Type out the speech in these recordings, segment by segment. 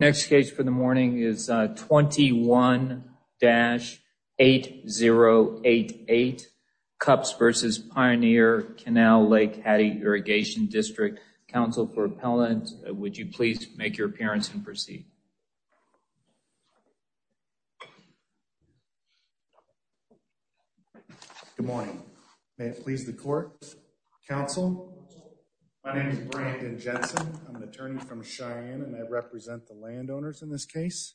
Next case for the morning is 21-8088, Cupps v. Pioneer Canal-Lake Hattie Irrigation District. Counsel for appellant, would you please make your appearance and proceed. Good morning. May it please the court. Counsel, my name is Brandon Jensen. I'm an attorney from Cheyenne and I represent the landowners in this case.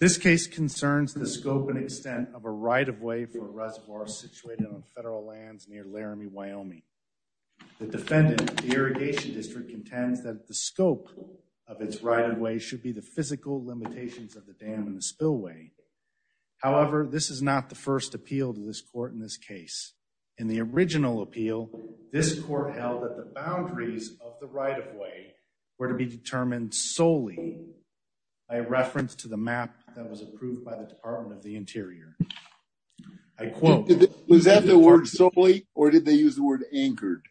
This case concerns the scope and extent of a right-of-way for a reservoir situated on federal lands near Laramie, Wyoming. The defendant, the irrigation district, contends that the scope of its right-of-way should be the physical limitations of the dam and the spillway. However, this is not the first appeal to this court in this case. In the original appeal, this court held that the boundaries of the right-of-way were to be determined solely by a reference to the map that was approved by the Department of the Interior. I quote. Was that the word solely or did they use the word anchored?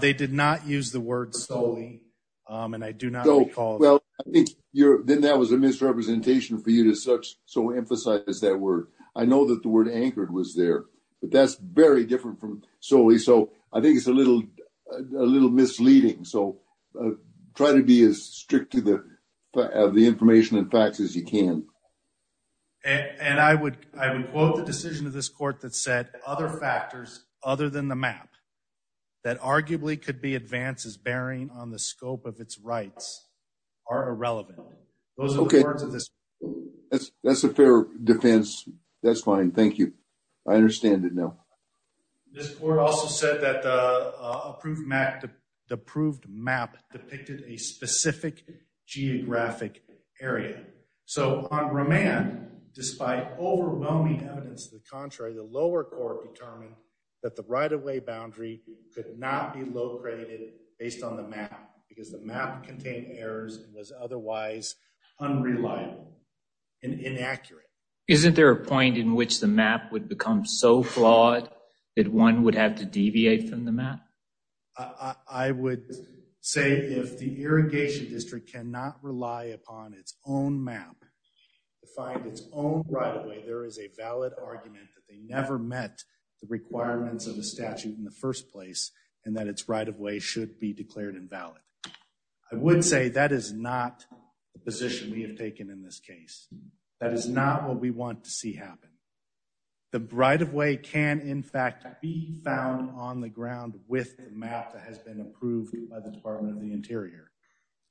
They did not use the word solely and I do not recall. Well, then that was a misrepresentation for you to such so emphasize that word. I know that the word anchored was there, but that's very different from solely. So I think it's a little misleading. So try to be as strict to the information and facts as you can. And I would quote the decision of this court that said other factors other than the map that arguably could be advances bearing on the scope of its rights. Are irrelevant. Those are the words of this. That's a fair defense. That's fine. Thank you. I understand it now. This court also said that the approved map depicted a specific geographic area. So on remand, despite overwhelming evidence to the contrary, the lower court determined that the right-of-way boundary could not be located based on the map because the map contained errors and was otherwise unreliable and inaccurate. Isn't there a point in which the map would become so flawed that one would have to deviate from the map? I would say if the irrigation district cannot rely upon its own map to find its own right-of-way, there is a valid argument that they never met the requirements of the statute in the first place and that it's right-of-way should be declared invalid. I would say that is not the position we have taken in this case. That is not what we want to see happen. The right-of-way can in fact be found on the ground with the map that has been approved by the Department of the Interior.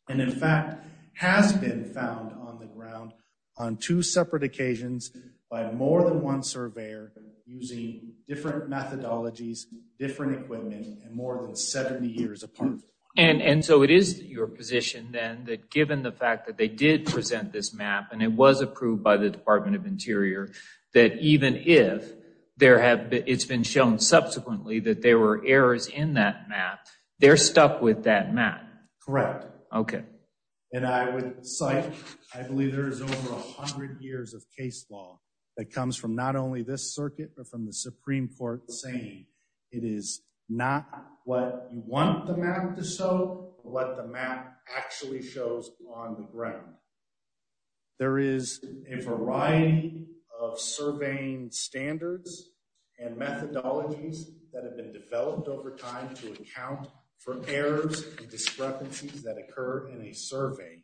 And in fact, has been found on the ground on two separate occasions by more than one surveyor using different methodologies, different equipment, and more than 70 years apart. And so it is your position then that given the fact that they did present this map and it was approved by the Department of Interior, that even if it's been shown subsequently that there were errors in that map, they're stuck with that map. Correct. Okay. And I would cite, I believe there is over 100 years of case law that comes from not only this circuit, but from the Supreme Court saying it is not what you want the map to show, but what the map actually shows on the ground. There is a variety of surveying standards and methodologies that have been developed over time to account for errors and discrepancies that occur in a survey.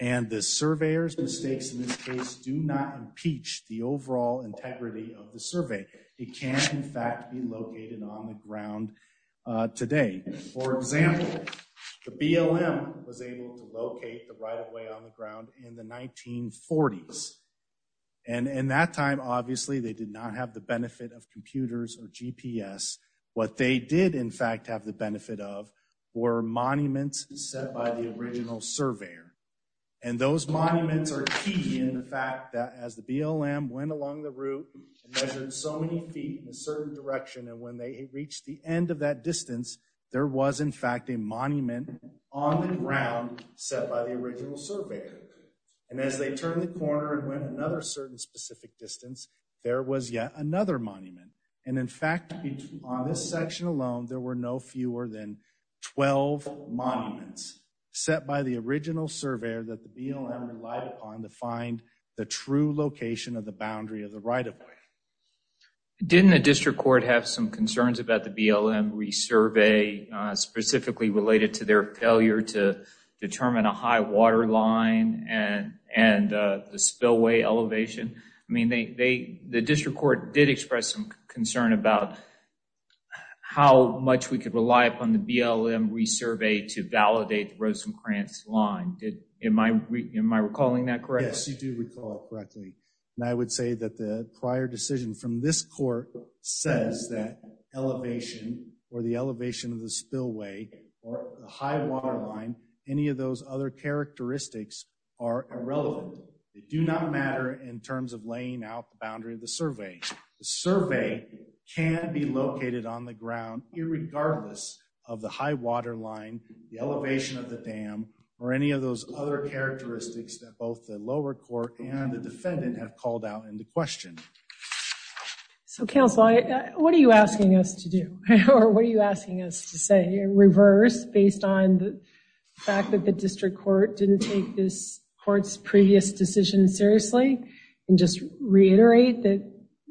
And the surveyor's mistakes in this case do not impeach the overall integrity of the survey. It can in fact be located on the ground today. For example, the BLM was able to locate the right-of-way on the ground in the 1940s. And in that time, obviously, they did not have the benefit of computers or GPS. What they did in fact have the benefit of were monuments set by the original surveyor. And those monuments are key in the fact that as the BLM went along the route and measured so many feet in a certain direction, and when they reached the end of that distance, there was in fact a monument on the ground set by the original surveyor. And as they turned the corner and went another certain specific distance, there was yet another monument. And in fact, on this section alone, there were no fewer than 12 monuments set by the original surveyor that the BLM relied upon to find the true location of the boundary of the right-of-way. Didn't the district court have some concerns about the BLM resurvey, specifically related to their failure to determine a high water line and the spillway elevation? I mean, the district court did express some concern about how much we could rely upon the BLM resurvey to validate the Rosencrantz line. Am I recalling that correctly? Yes, you do recall it correctly. And I would say that the prior decision from this court says that elevation or the elevation of the spillway or the high water line, any of those other characteristics are irrelevant. They do not matter in terms of laying out the boundary of the survey. The survey can be located on the ground, irregardless of the high water line, the elevation of the dam, or any of those other characteristics that both the lower court and the defendant have called out into question. So, counsel, what are you asking us to do? Or what are you asking us to say in reverse, based on the fact that the district court didn't take this court's previous decision seriously? And just reiterate that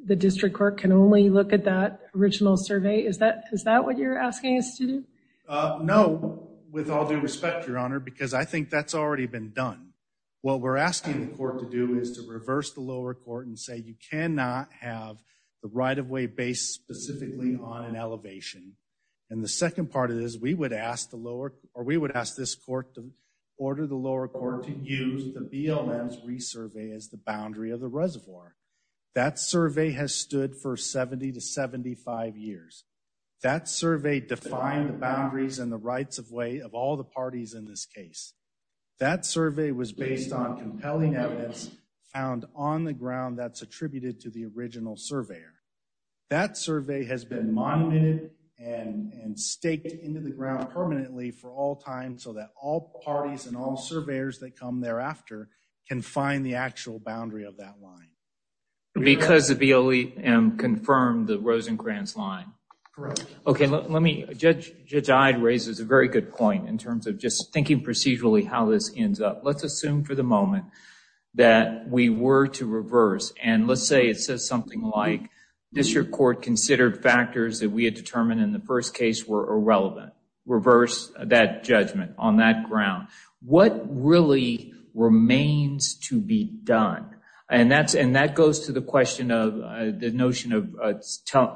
the district court can only look at that original survey? Is that what you're asking us to do? No, with all due respect, Your Honor, because I think that's already been done. What we're asking the court to do is to reverse the lower court and say you cannot have the right-of-way based specifically on an elevation. And the second part of this, we would ask this court to order the lower court to use the BLM's resurvey as the boundary of the reservoir. That survey has stood for 70 to 75 years. That survey defined the boundaries and the rights-of-way of all the parties in this case. That survey was based on compelling evidence found on the ground that's attributed to the original surveyor. That survey has been monumented and staked into the ground permanently for all time so that all parties and all surveyors that come thereafter can find the actual boundary of that line. Because the BLM confirmed the Rosencrantz line? Correct. Judge Ide raises a very good point in terms of just thinking procedurally how this ends up. Let's assume for the moment that we were to reverse and let's say it says something like district court considered factors that we had determined in the first case were irrelevant. Reverse that judgment on that ground. What really remains to be done? That goes to the question of the notion of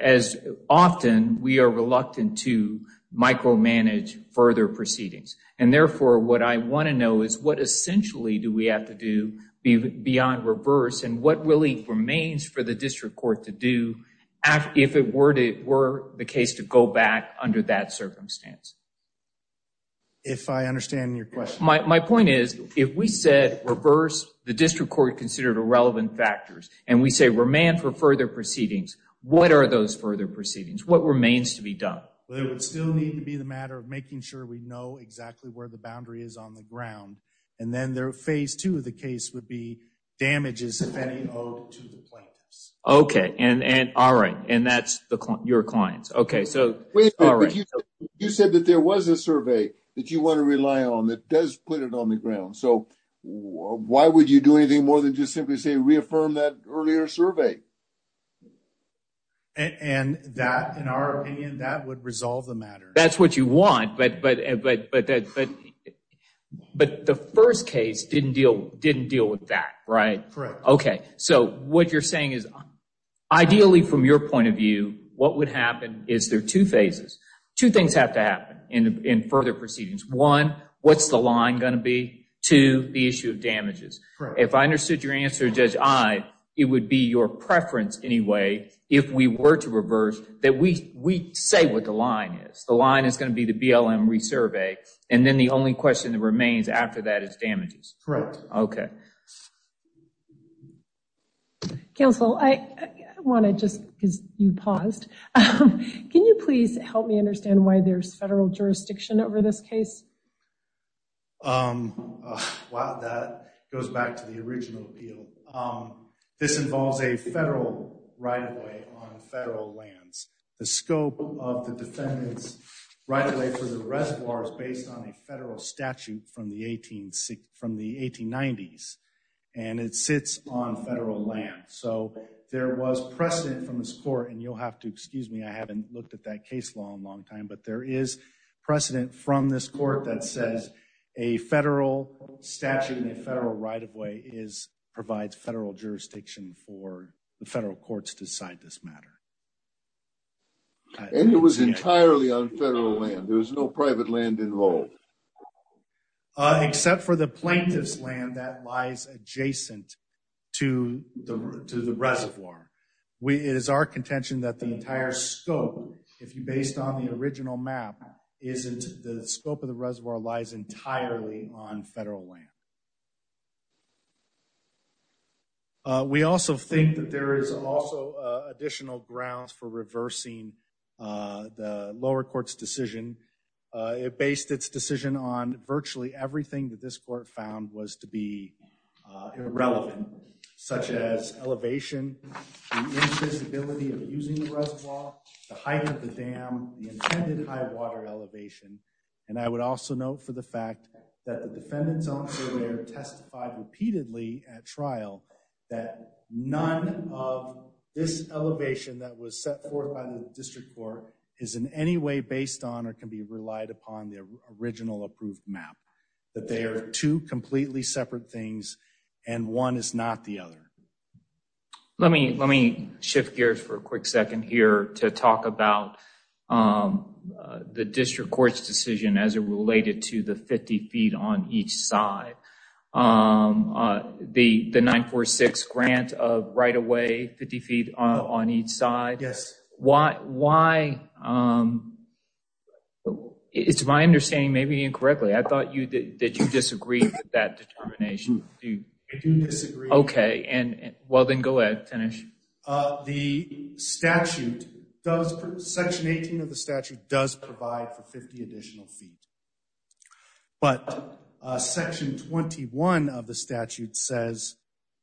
as often we are reluctant to micromanage further proceedings. Therefore, what I want to know is what essentially do we have to do beyond reverse and what really remains for the district court to do if it were the case to go back under that circumstance? If I understand your question. My point is if we said reverse, the district court considered irrelevant factors and we say remand for further proceedings. What are those further proceedings? What remains to be done? It would still need to be the matter of making sure we know exactly where the boundary is on the ground. And then their phase two of the case would be damages if any owed to the plaintiffs. Okay. All right. And that's your clients. You said that there was a survey that you want to rely on that does put it on the ground. So why would you do anything more than just simply say reaffirm that earlier survey? And that in our opinion, that would resolve the matter. That's what you want. But the first case didn't deal with that. Right. Correct. Okay. So what you're saying is ideally from your point of view, what would happen is there are two phases. Two things have to happen in further proceedings. One, what's the line going to be? Two, the issue of damages. If I understood your answer, Judge I, it would be your preference anyway if we were to reverse that we say what the line is. The line is going to be the BLM resurvey and then the only question that remains after that is damages. Correct. Okay. Counsel, I want to just because you paused. Can you please help me understand why there's federal jurisdiction over this case? Wow, that goes back to the original appeal. This involves a federal right of way on federal lands. The scope of the defendant's right of way for the reservoir is based on a federal statute from the 1890s and it sits on federal land. So there was precedent from this court and you'll have to excuse me, I haven't looked at that case law in a long time. But there is precedent from this court that says a federal statute and a federal right of way provides federal jurisdiction for the federal courts to decide this matter. And it was entirely on federal land. There was no private land involved. Except for the plaintiff's land that lies adjacent to the reservoir. It is our contention that the entire scope, if you based on the original map, isn't the scope of the reservoir lies entirely on federal land. We also think that there is also additional grounds for reversing the lower court's decision. It based its decision on virtually everything that this court found was to be irrelevant. Such as elevation, the invisibility of using the reservoir, the height of the dam, the intended high water elevation. And I would also note for the fact that the defendant's own surveyor testified repeatedly at trial that none of this elevation that was set forth by the district court is in any way based on or can be relied upon the original approved map. That they are two completely separate things and one is not the other. Let me shift gears for a quick second here to talk about the district court's decision as it related to the 50 feet on each side. The 946 grant of right of way, 50 feet on each side. Yes. Why? It's my understanding, maybe incorrectly, I thought that you disagreed with that determination. I do disagree. Okay, well then go ahead Tanish. The statute, section 18 of the statute does provide for 50 additional feet. But section 21 of the statute says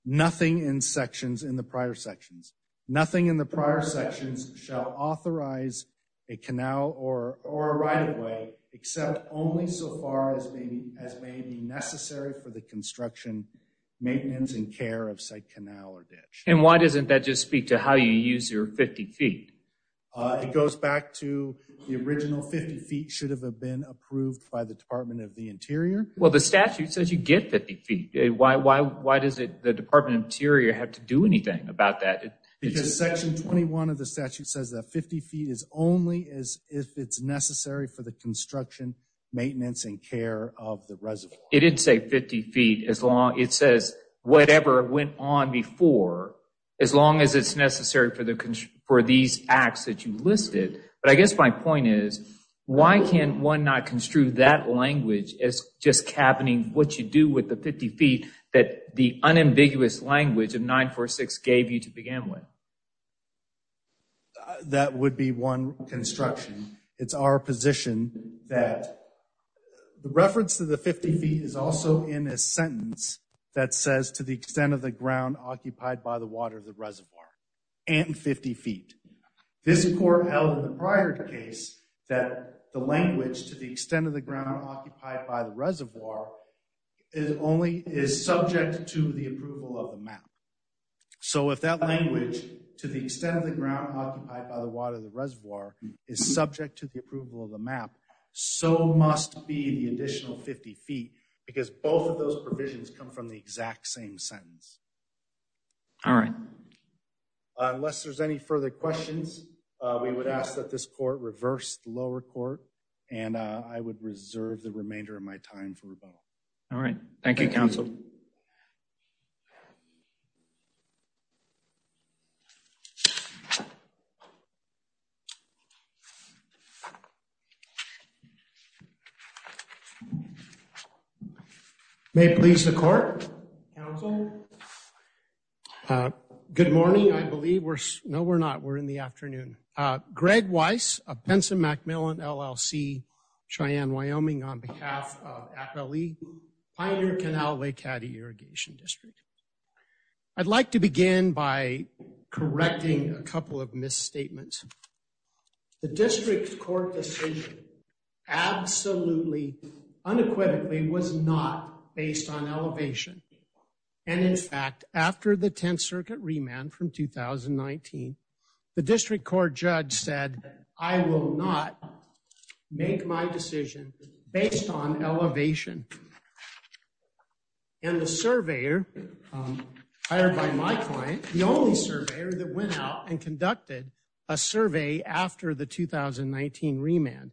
nothing in the prior sections. Nothing in the prior sections shall authorize a canal or a right of way except only so far as may be necessary for the construction, maintenance and care of site canal or ditch. And why doesn't that just speak to how you use your 50 feet? It goes back to the original 50 feet should have been approved by the Department of the Interior. Well the statute says you get 50 feet. Why does the Department of the Interior have to do anything about that? Because section 21 of the statute says that 50 feet is only if it's necessary for the construction, maintenance and care of the reservoir. It didn't say 50 feet. It says whatever went on before as long as it's necessary for these acts that you listed. But I guess my point is, why can't one not construe that language as just cabining what you do with the 50 feet that the unambiguous language of 946 gave you to begin with? That would be one construction. It's our position that the reference to the 50 feet is also in a sentence that says to the extent of the ground occupied by the water of the reservoir and 50 feet. This court held in the prior case that the language to the extent of the ground occupied by the reservoir is subject to the approval of the map. So if that language to the extent of the ground occupied by the water of the reservoir is subject to the approval of the map, so must be the additional 50 feet. Because both of those provisions come from the exact same sentence. All right. Unless there's any further questions, we would ask that this court reverse the lower court and I would reserve the remainder of my time for rebuttal. All right. Thank you, counsel. May it please the court. Counsel. Good morning. I believe we're no, we're not. We're in the afternoon. Greg Weiss of Pinson Macmillan, LLC, Cheyenne, Wyoming on behalf of FLE, Pioneer Canal Lake Addy Irrigation District. I'd like to begin by correcting a couple of misstatements. The district court decision absolutely unequivocally was not based on elevation. And in fact, after the 10th Circuit remand from 2019, the district court judge said, I will not make my decision based on elevation. And the surveyor hired by my client, the only surveyor that went out and conducted a survey after the 2019 remand.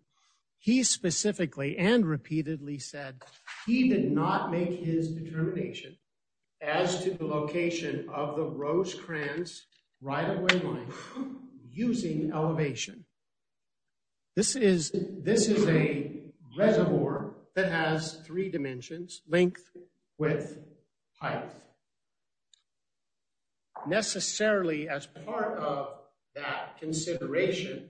He specifically and repeatedly said he did not make his determination as to the location of the Rosecrans right of way line using elevation. This is, this is a reservoir that has three dimensions, length, width, height. Necessarily as part of that consideration,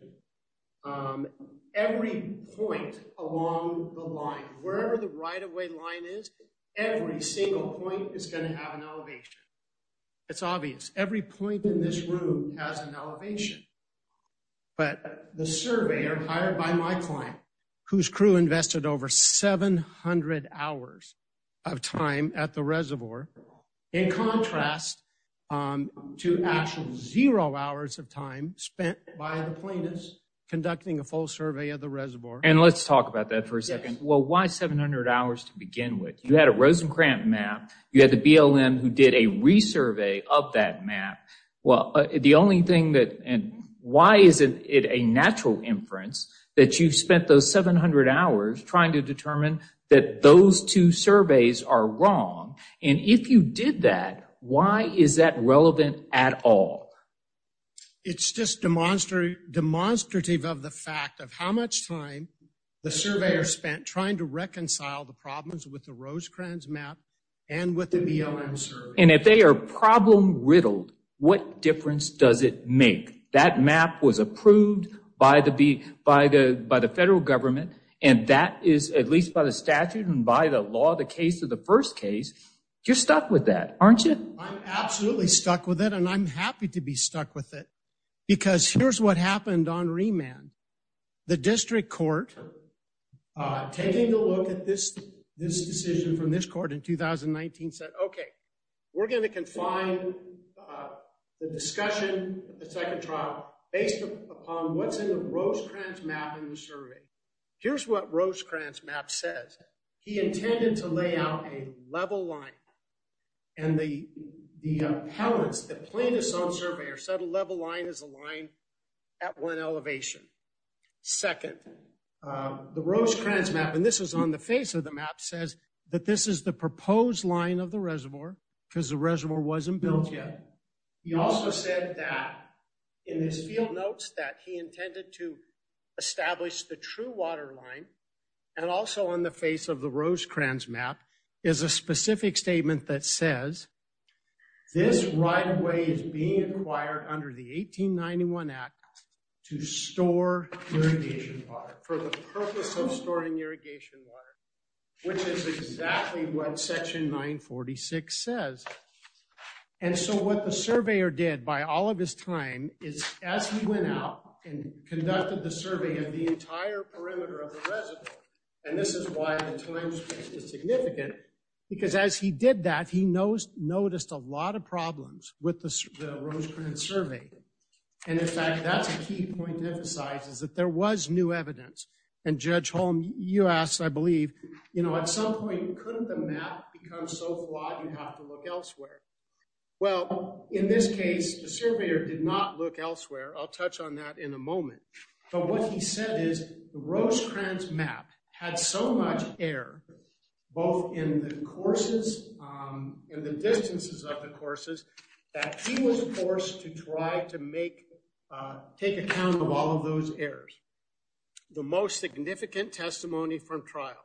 every point along the line, wherever the right of way line is, every single point is going to have an elevation. It's obvious. Every point in this room has an elevation. But the surveyor hired by my client, whose crew invested over 700 hours of time at the reservoir, in contrast to actual zero hours of time spent by the plaintiffs conducting a full survey of the reservoir. And let's talk about that for a second. Well, why 700 hours to begin with? You had a Rosencrantz map. You had the BLM who did a resurvey of that map. Well, the only thing that, and why is it a natural inference that you spent those 700 hours trying to determine that those two surveys are wrong? And if you did that, why is that relevant at all? It's just demonstrative of the fact of how much time the surveyor spent trying to reconcile the problems with the Rosencrantz map and with the BLM survey. And if they are problem riddled, what difference does it make? That map was approved by the federal government, and that is, at least by the statute and by the law, the case of the first case. You're stuck with that, aren't you? I'm absolutely stuck with it, and I'm happy to be stuck with it, because here's what happened on remand. The district court, taking a look at this decision from this court in 2019, said, okay, we're going to confine the discussion of the second trial based upon what's in the Rosencrantz map in the survey. Here's what Rosencrantz map says. He intended to lay out a level line, and the plaintiffs on surveyors said a level line is a line at one elevation. Second, the Rosencrantz map, and this is on the face of the map, says that this is the proposed line of the reservoir, because the reservoir wasn't built yet. He also said that, in his field notes, that he intended to establish the true water line, and also on the face of the Rosencrantz map, is a specific statement that says, this right away is being required under the 1891 Act to store irrigation water for the purpose of storing irrigation water, which is exactly what section 946 says. And so what the surveyor did by all of his time is, as he went out and conducted the survey of the entire perimeter of the reservoir, and this is why the time is significant, because as he did that, he noticed a lot of problems with the Rosencrantz survey. And in fact, that's a key point to emphasize, is that there was new evidence. And Judge Holm, you asked, I believe, you know, at some point, couldn't the map become so flawed you have to look elsewhere? Well, in this case, the surveyor did not look elsewhere. I'll touch on that in a moment. But what he said is, the Rosencrantz map had so much error, both in the courses and the distances of the courses, that he was forced to try to take account of all of those errors. The most significant testimony from trial,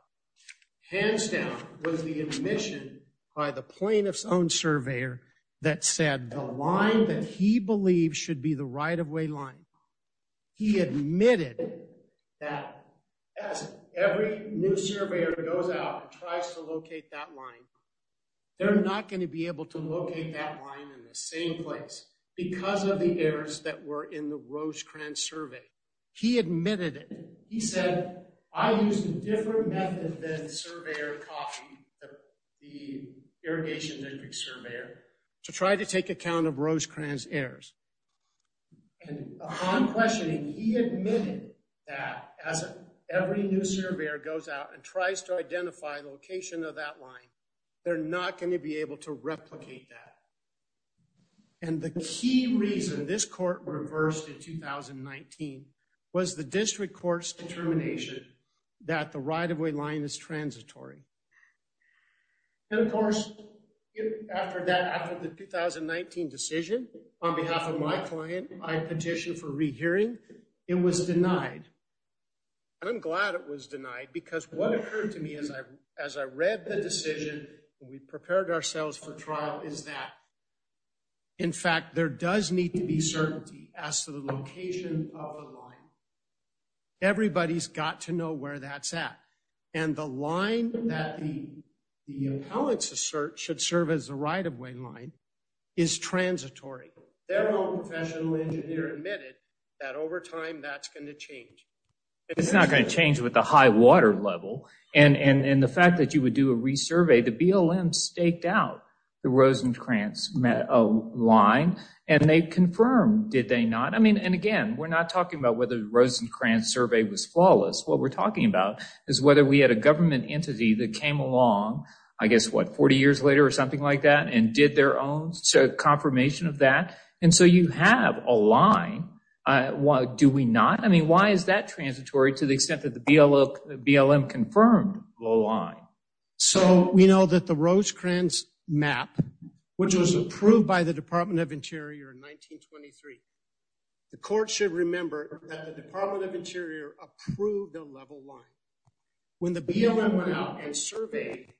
hands down, was the admission by the plaintiff's own surveyor that said the line that he believed should be the right-of-way line. He admitted that as every new surveyor goes out and tries to locate that line, they're not going to be able to locate that line in the same place because of the errors that were in the Rosencrantz survey. He admitted it. He said, I used a different method than the surveyor copied, the irrigation district surveyor, to try to take account of Rosencrantz errors. And upon questioning, he admitted that as every new surveyor goes out and tries to identify the location of that line, they're not going to be able to replicate that. And the key reason this court reversed in 2019 was the district court's determination that the right-of-way line is transitory. And of course, after that, after the 2019 decision, on behalf of my client, I petitioned for rehearing. It was denied. And I'm glad it was denied because what occurred to me as I read the decision and we prepared ourselves for trial is that, in fact, there does need to be certainty as to the location of the line. Everybody's got to know where that's at. And the line that the appellants assert should serve as the right-of-way line is transitory. Their own professional engineer admitted that over time, that's going to change. It's not going to change with the high water level. And the fact that you would do a resurvey, the BLM staked out the Rosencrantz line and they confirmed, did they not? I mean, and again, we're not talking about whether the Rosencrantz survey was flawless. What we're talking about is whether we had a government entity that came along, I guess, what, 40 years later or something like that and did their own confirmation of that. And so you have a line. Do we not? I mean, why is that transitory to the extent that the BLM confirmed the line? So we know that the Rosencrantz map, which was approved by the Department of Interior in 1923, the court should remember that the Department of Interior approved the level line. When the BLM went out and surveyed,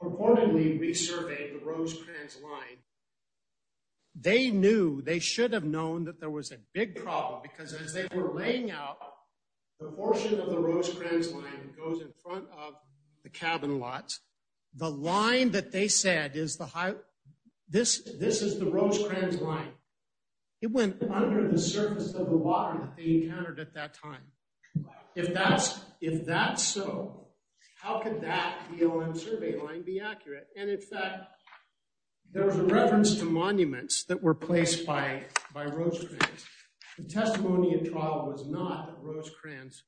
reportedly resurveyed the Rosencrantz line, they knew, they should have known that there was a big problem because as they were laying out, the portion of the Rosencrantz line goes in front of the cabin lots. The line that they said is the high, this is the Rosencrantz line. It went under the surface of the water that they encountered at that time. If that's so, how could that BLM survey line be accurate? And in fact, there was a reference to monuments that were placed by Rosencrantz. The testimony in trial was not that Rosencrantz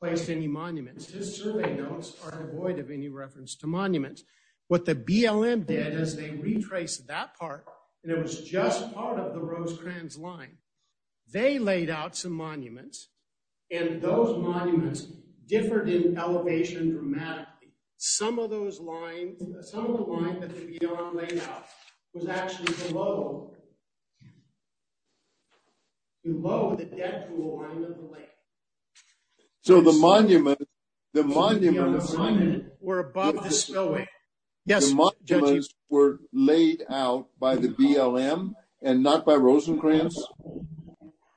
placed any monuments. His survey notes are devoid of any reference to monuments. What the BLM did is they retraced that part, and it was just part of the Rosencrantz line. They laid out some monuments, and those monuments differed in elevation dramatically. Some of those lines, some of the line that the BLM laid out was actually below, below the depth of the line of the lake. So the monuments were above the spillway. The monuments were laid out by the BLM and not by Rosencrantz?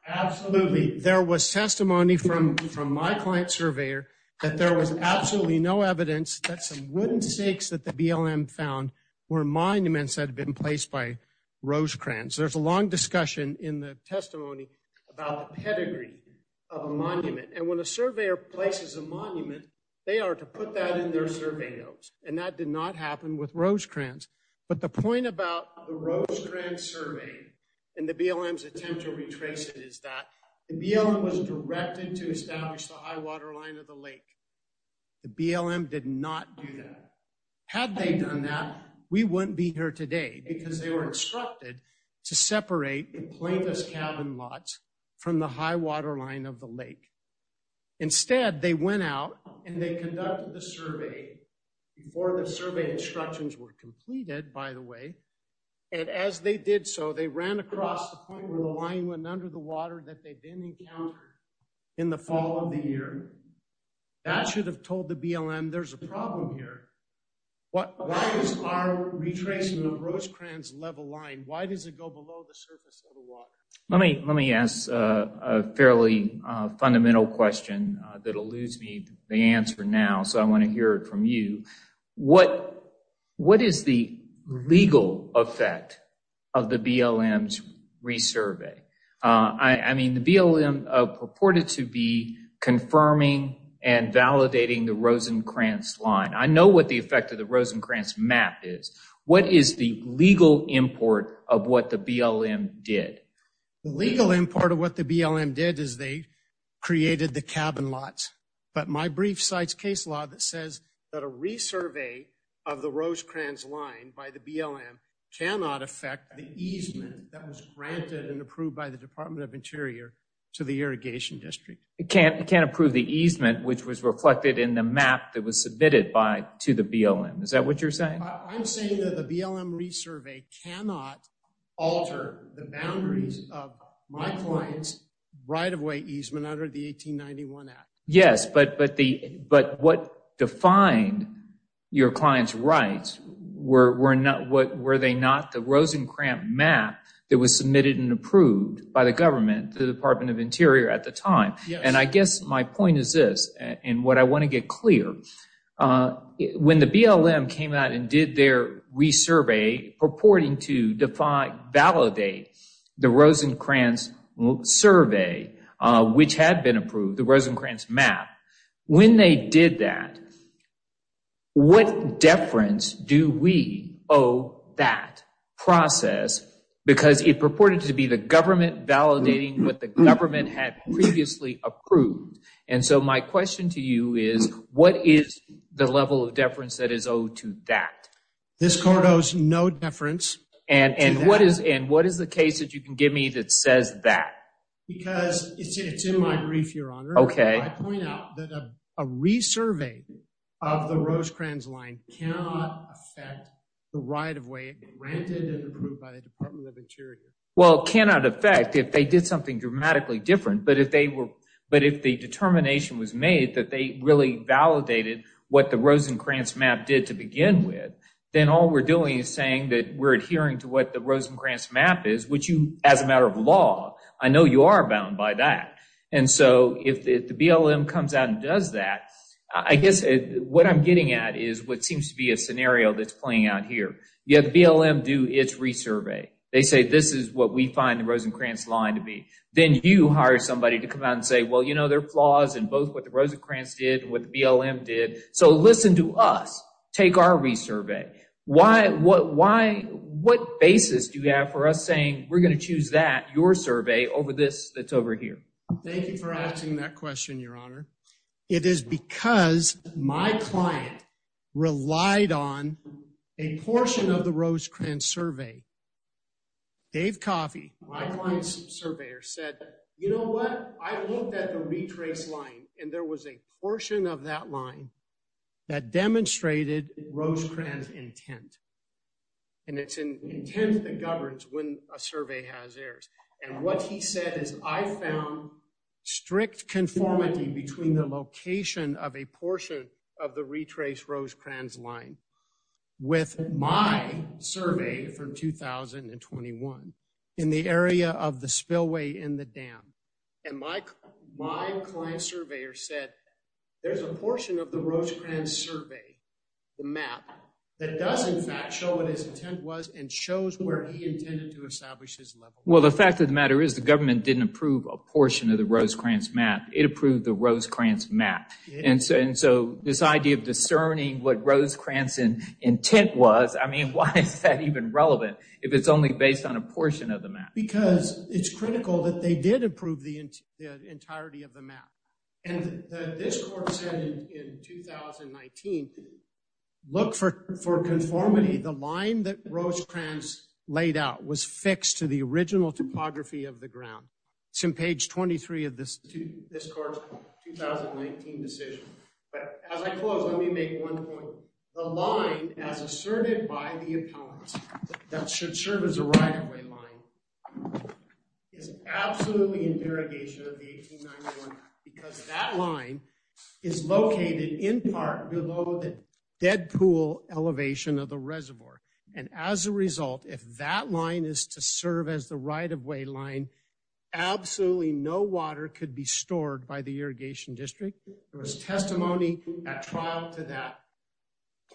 Absolutely. There was testimony from my client surveyor that there was absolutely no evidence that some wooden stakes that the BLM found were monuments that had been placed by Rosencrantz. There's a long discussion in the testimony about the pedigree of a monument, and when a surveyor places a monument, they are to put that in their survey notes, and that did not happen with Rosencrantz. But the point about the Rosencrantz survey and the BLM's attempt to retrace it is that the BLM was directed to establish the high waterline of the lake. The BLM did not do that. Had they done that, we wouldn't be here today because they were instructed to separate the plaintiff's cabin lots from the high waterline of the lake. Instead, they went out and they conducted the survey before the survey instructions were completed, by the way, and as they did so, they ran across the point where the line went under the water that they didn't encounter in the fall of the year. That should have told the BLM, there's a problem here. Why is our retracement of Rosencrantz level line, why does it go below the surface of the water? Let me ask a fairly fundamental question that will lose me the answer now, so I want to hear it from you. What is the legal effect of the BLM's resurvey? I mean, the BLM purported to be confirming and validating the Rosencrantz line. I know what the effect of the Rosencrantz map is. What is the legal import of what the BLM did? The legal import of what the BLM did is they created the cabin lots, but my brief cites case law that says that a resurvey of the Rosencrantz line by the BLM cannot affect the easement that was granted and approved by the Department of Interior to the Irrigation District. It can't approve the easement, which was reflected in the map that was submitted to the BLM. Is that what you're saying? I'm saying that the BLM resurvey cannot alter the boundaries of my client's right-of-way easement under the 1891 Act. Yes, but what defined your client's rights, were they not the Rosencrantz map that was submitted and approved by the government, the Department of Interior at the time? And I guess my point is this, and what I want to get clear, when the BLM came out and did their resurvey purporting to validate the Rosencrantz survey, which had been approved, the Rosencrantz map, when they did that, what deference do we owe that process? Because it purported to be the government validating what the government had previously approved. And so my question to you is, what is the level of deference that is owed to that? This court owes no deference to that. And what is the case that you can give me that says that? It's in my brief, Your Honor. I point out that a resurvey of the Rosencrantz line cannot affect the right-of-way granted and approved by the Department of Interior. Well, it cannot affect if they did something dramatically different, but if the determination was made that they really validated what the Rosencrantz map did to begin with, then all we're doing is saying that we're adhering to what the Rosencrantz map is, which you, as a matter of law, I know you are bound by that. And so if the BLM comes out and does that, I guess what I'm getting at is what seems to be a scenario that's playing out here. You have the BLM do its resurvey. They say this is what we find the Rosencrantz line to be. Then you hire somebody to come out and say, well, you know, there are flaws in both what the Rosencrantz did and what the BLM did. So listen to us. Take our resurvey. What basis do you have for us saying we're going to choose that, your survey, over this that's over here? Thank you for asking that question, Your Honor. It is because my client relied on a portion of the Rosencrantz survey. Dave Coffey, my client's surveyor, said, you know what, I looked at the retrace line, and there was a portion of that line that demonstrated Rosencrantz intent. And it's an intent that governs when a survey has errors. And what he said is, I found strict conformity between the location of a portion of the retrace Rosencrantz line with my survey for 2021 in the area of the spillway in the dam. And my client's surveyor said, there's a portion of the Rosencrantz survey, the map, that does in fact show what his intent was and shows where he intended to establish his level. Well, the fact of the matter is the government didn't approve a portion of the Rosencrantz map. It approved the Rosencrantz map. And so this idea of discerning what Rosencrantz's intent was, I mean, why is that even relevant if it's only based on a portion of the map? Because it's critical that they did approve the entirety of the map. And this court said in 2019, look for conformity. The line that Rosencrantz laid out was fixed to the original topography of the ground. It's in page 23 of this court's 2019 decision. But as I close, let me make one point. The line, as asserted by the appellant, that should serve as a right-of-way line is absolutely in derogation of the 1891, because that line is located in part below the dead pool elevation of the reservoir. And as a result, if that line is to serve as the right-of-way line, absolutely no water could be stored by the irrigation district. There was testimony at trial to that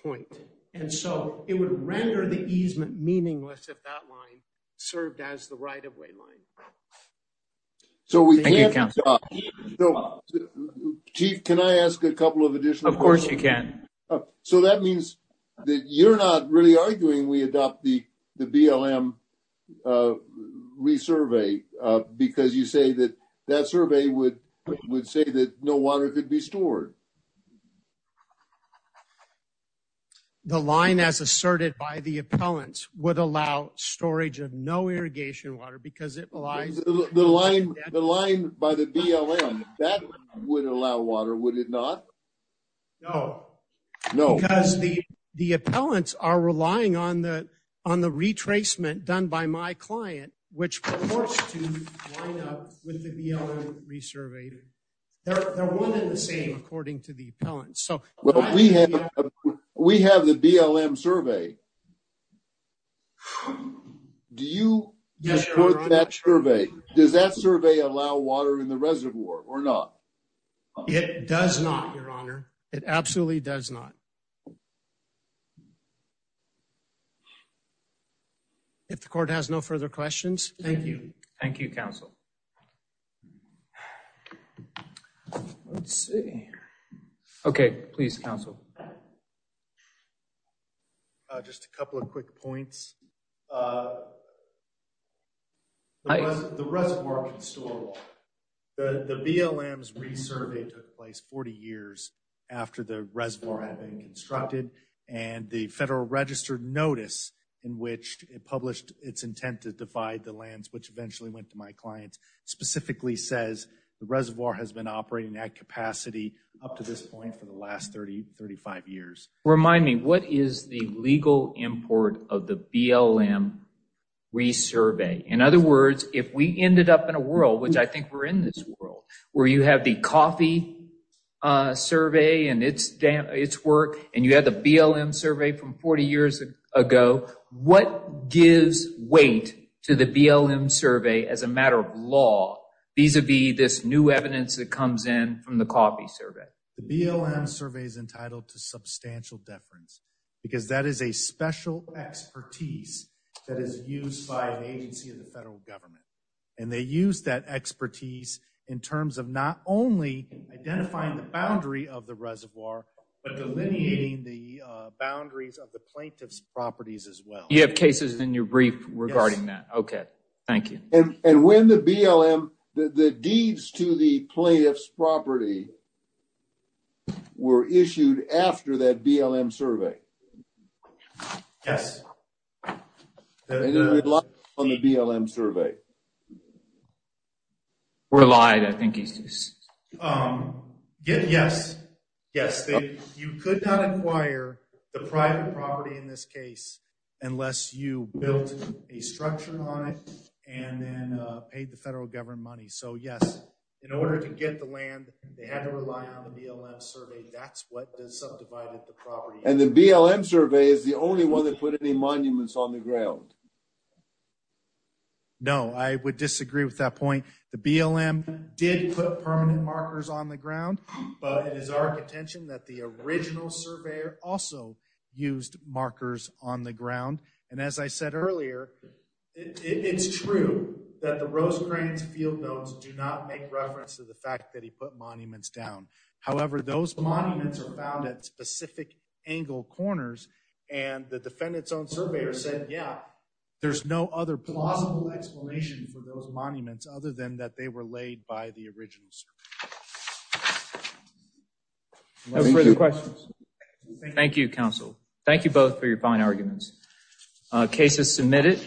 point. And so it would render the easement meaningless if that line served as the right-of-way line. Thank you, counsel. Chief, can I ask a couple of additional questions? Of course you can. So that means that you're not really arguing we adopt the BLM resurvey because you say that that survey would say that no water could be stored. The line, as asserted by the appellant, would allow storage of no irrigation water because it relies... The line by the BLM, that would allow water, would it not? No. No. Because the appellants are relying on the retracement done by my client, which purports to line up with the BLM resurvey. They're one and the same according to the appellant. We have the BLM survey. Do you support that survey? Does that survey allow water in the reservoir or not? It does not, your honor. It absolutely does not. If the court has no further questions. Thank you. Thank you, counsel. Let's see. Okay, please, counsel. Just a couple of quick points. The reservoir can store water. The BLM's resurvey took place 40 years after the reservoir had been constructed. And the Federal Register notice in which it published its intent to divide the lands, which eventually went to my client, specifically says the reservoir has been operating at capacity up to this point for the last 30, 35 years. Remind me, what is the legal import of the BLM resurvey? In other words, if we ended up in a world, which I think we're in this world, where you have the coffee survey and its work, and you have the BLM survey from 40 years ago, what gives weight to the BLM survey as a matter of law vis-a-vis this new evidence that comes in from the coffee survey? The BLM survey is entitled to substantial deference, because that is a special expertise that is used by an agency of the federal government. And they use that expertise in terms of not only identifying the boundary of the reservoir, but delineating the boundaries of the plaintiff's properties as well. You have cases in your brief regarding that. Okay, thank you. And when the BLM, the deeds to the plaintiff's property were issued after that BLM survey? Yes. And it relied on the BLM survey? Relied, I think he says. Yes, yes. You could not acquire the private property in this case, unless you built a structure on it and then paid the federal government money. So, yes, in order to get the land, they had to rely on the BLM survey. That's what subdivided the property. And the BLM survey is the only one that put any monuments on the ground? No, I would disagree with that point. The BLM did put permanent markers on the ground, but it is our contention that the original surveyor also used markers on the ground. And as I said earlier, it's true that the Rose Cranes field notes do not make reference to the fact that he put monuments down. However, those monuments are found at specific angle corners, and the defendant's own surveyor said, yeah, there's no other plausible explanation for those monuments other than that they were laid by the original surveyor. No further questions. Thank you, counsel. Thank you both for your fine arguments. Case is submitted.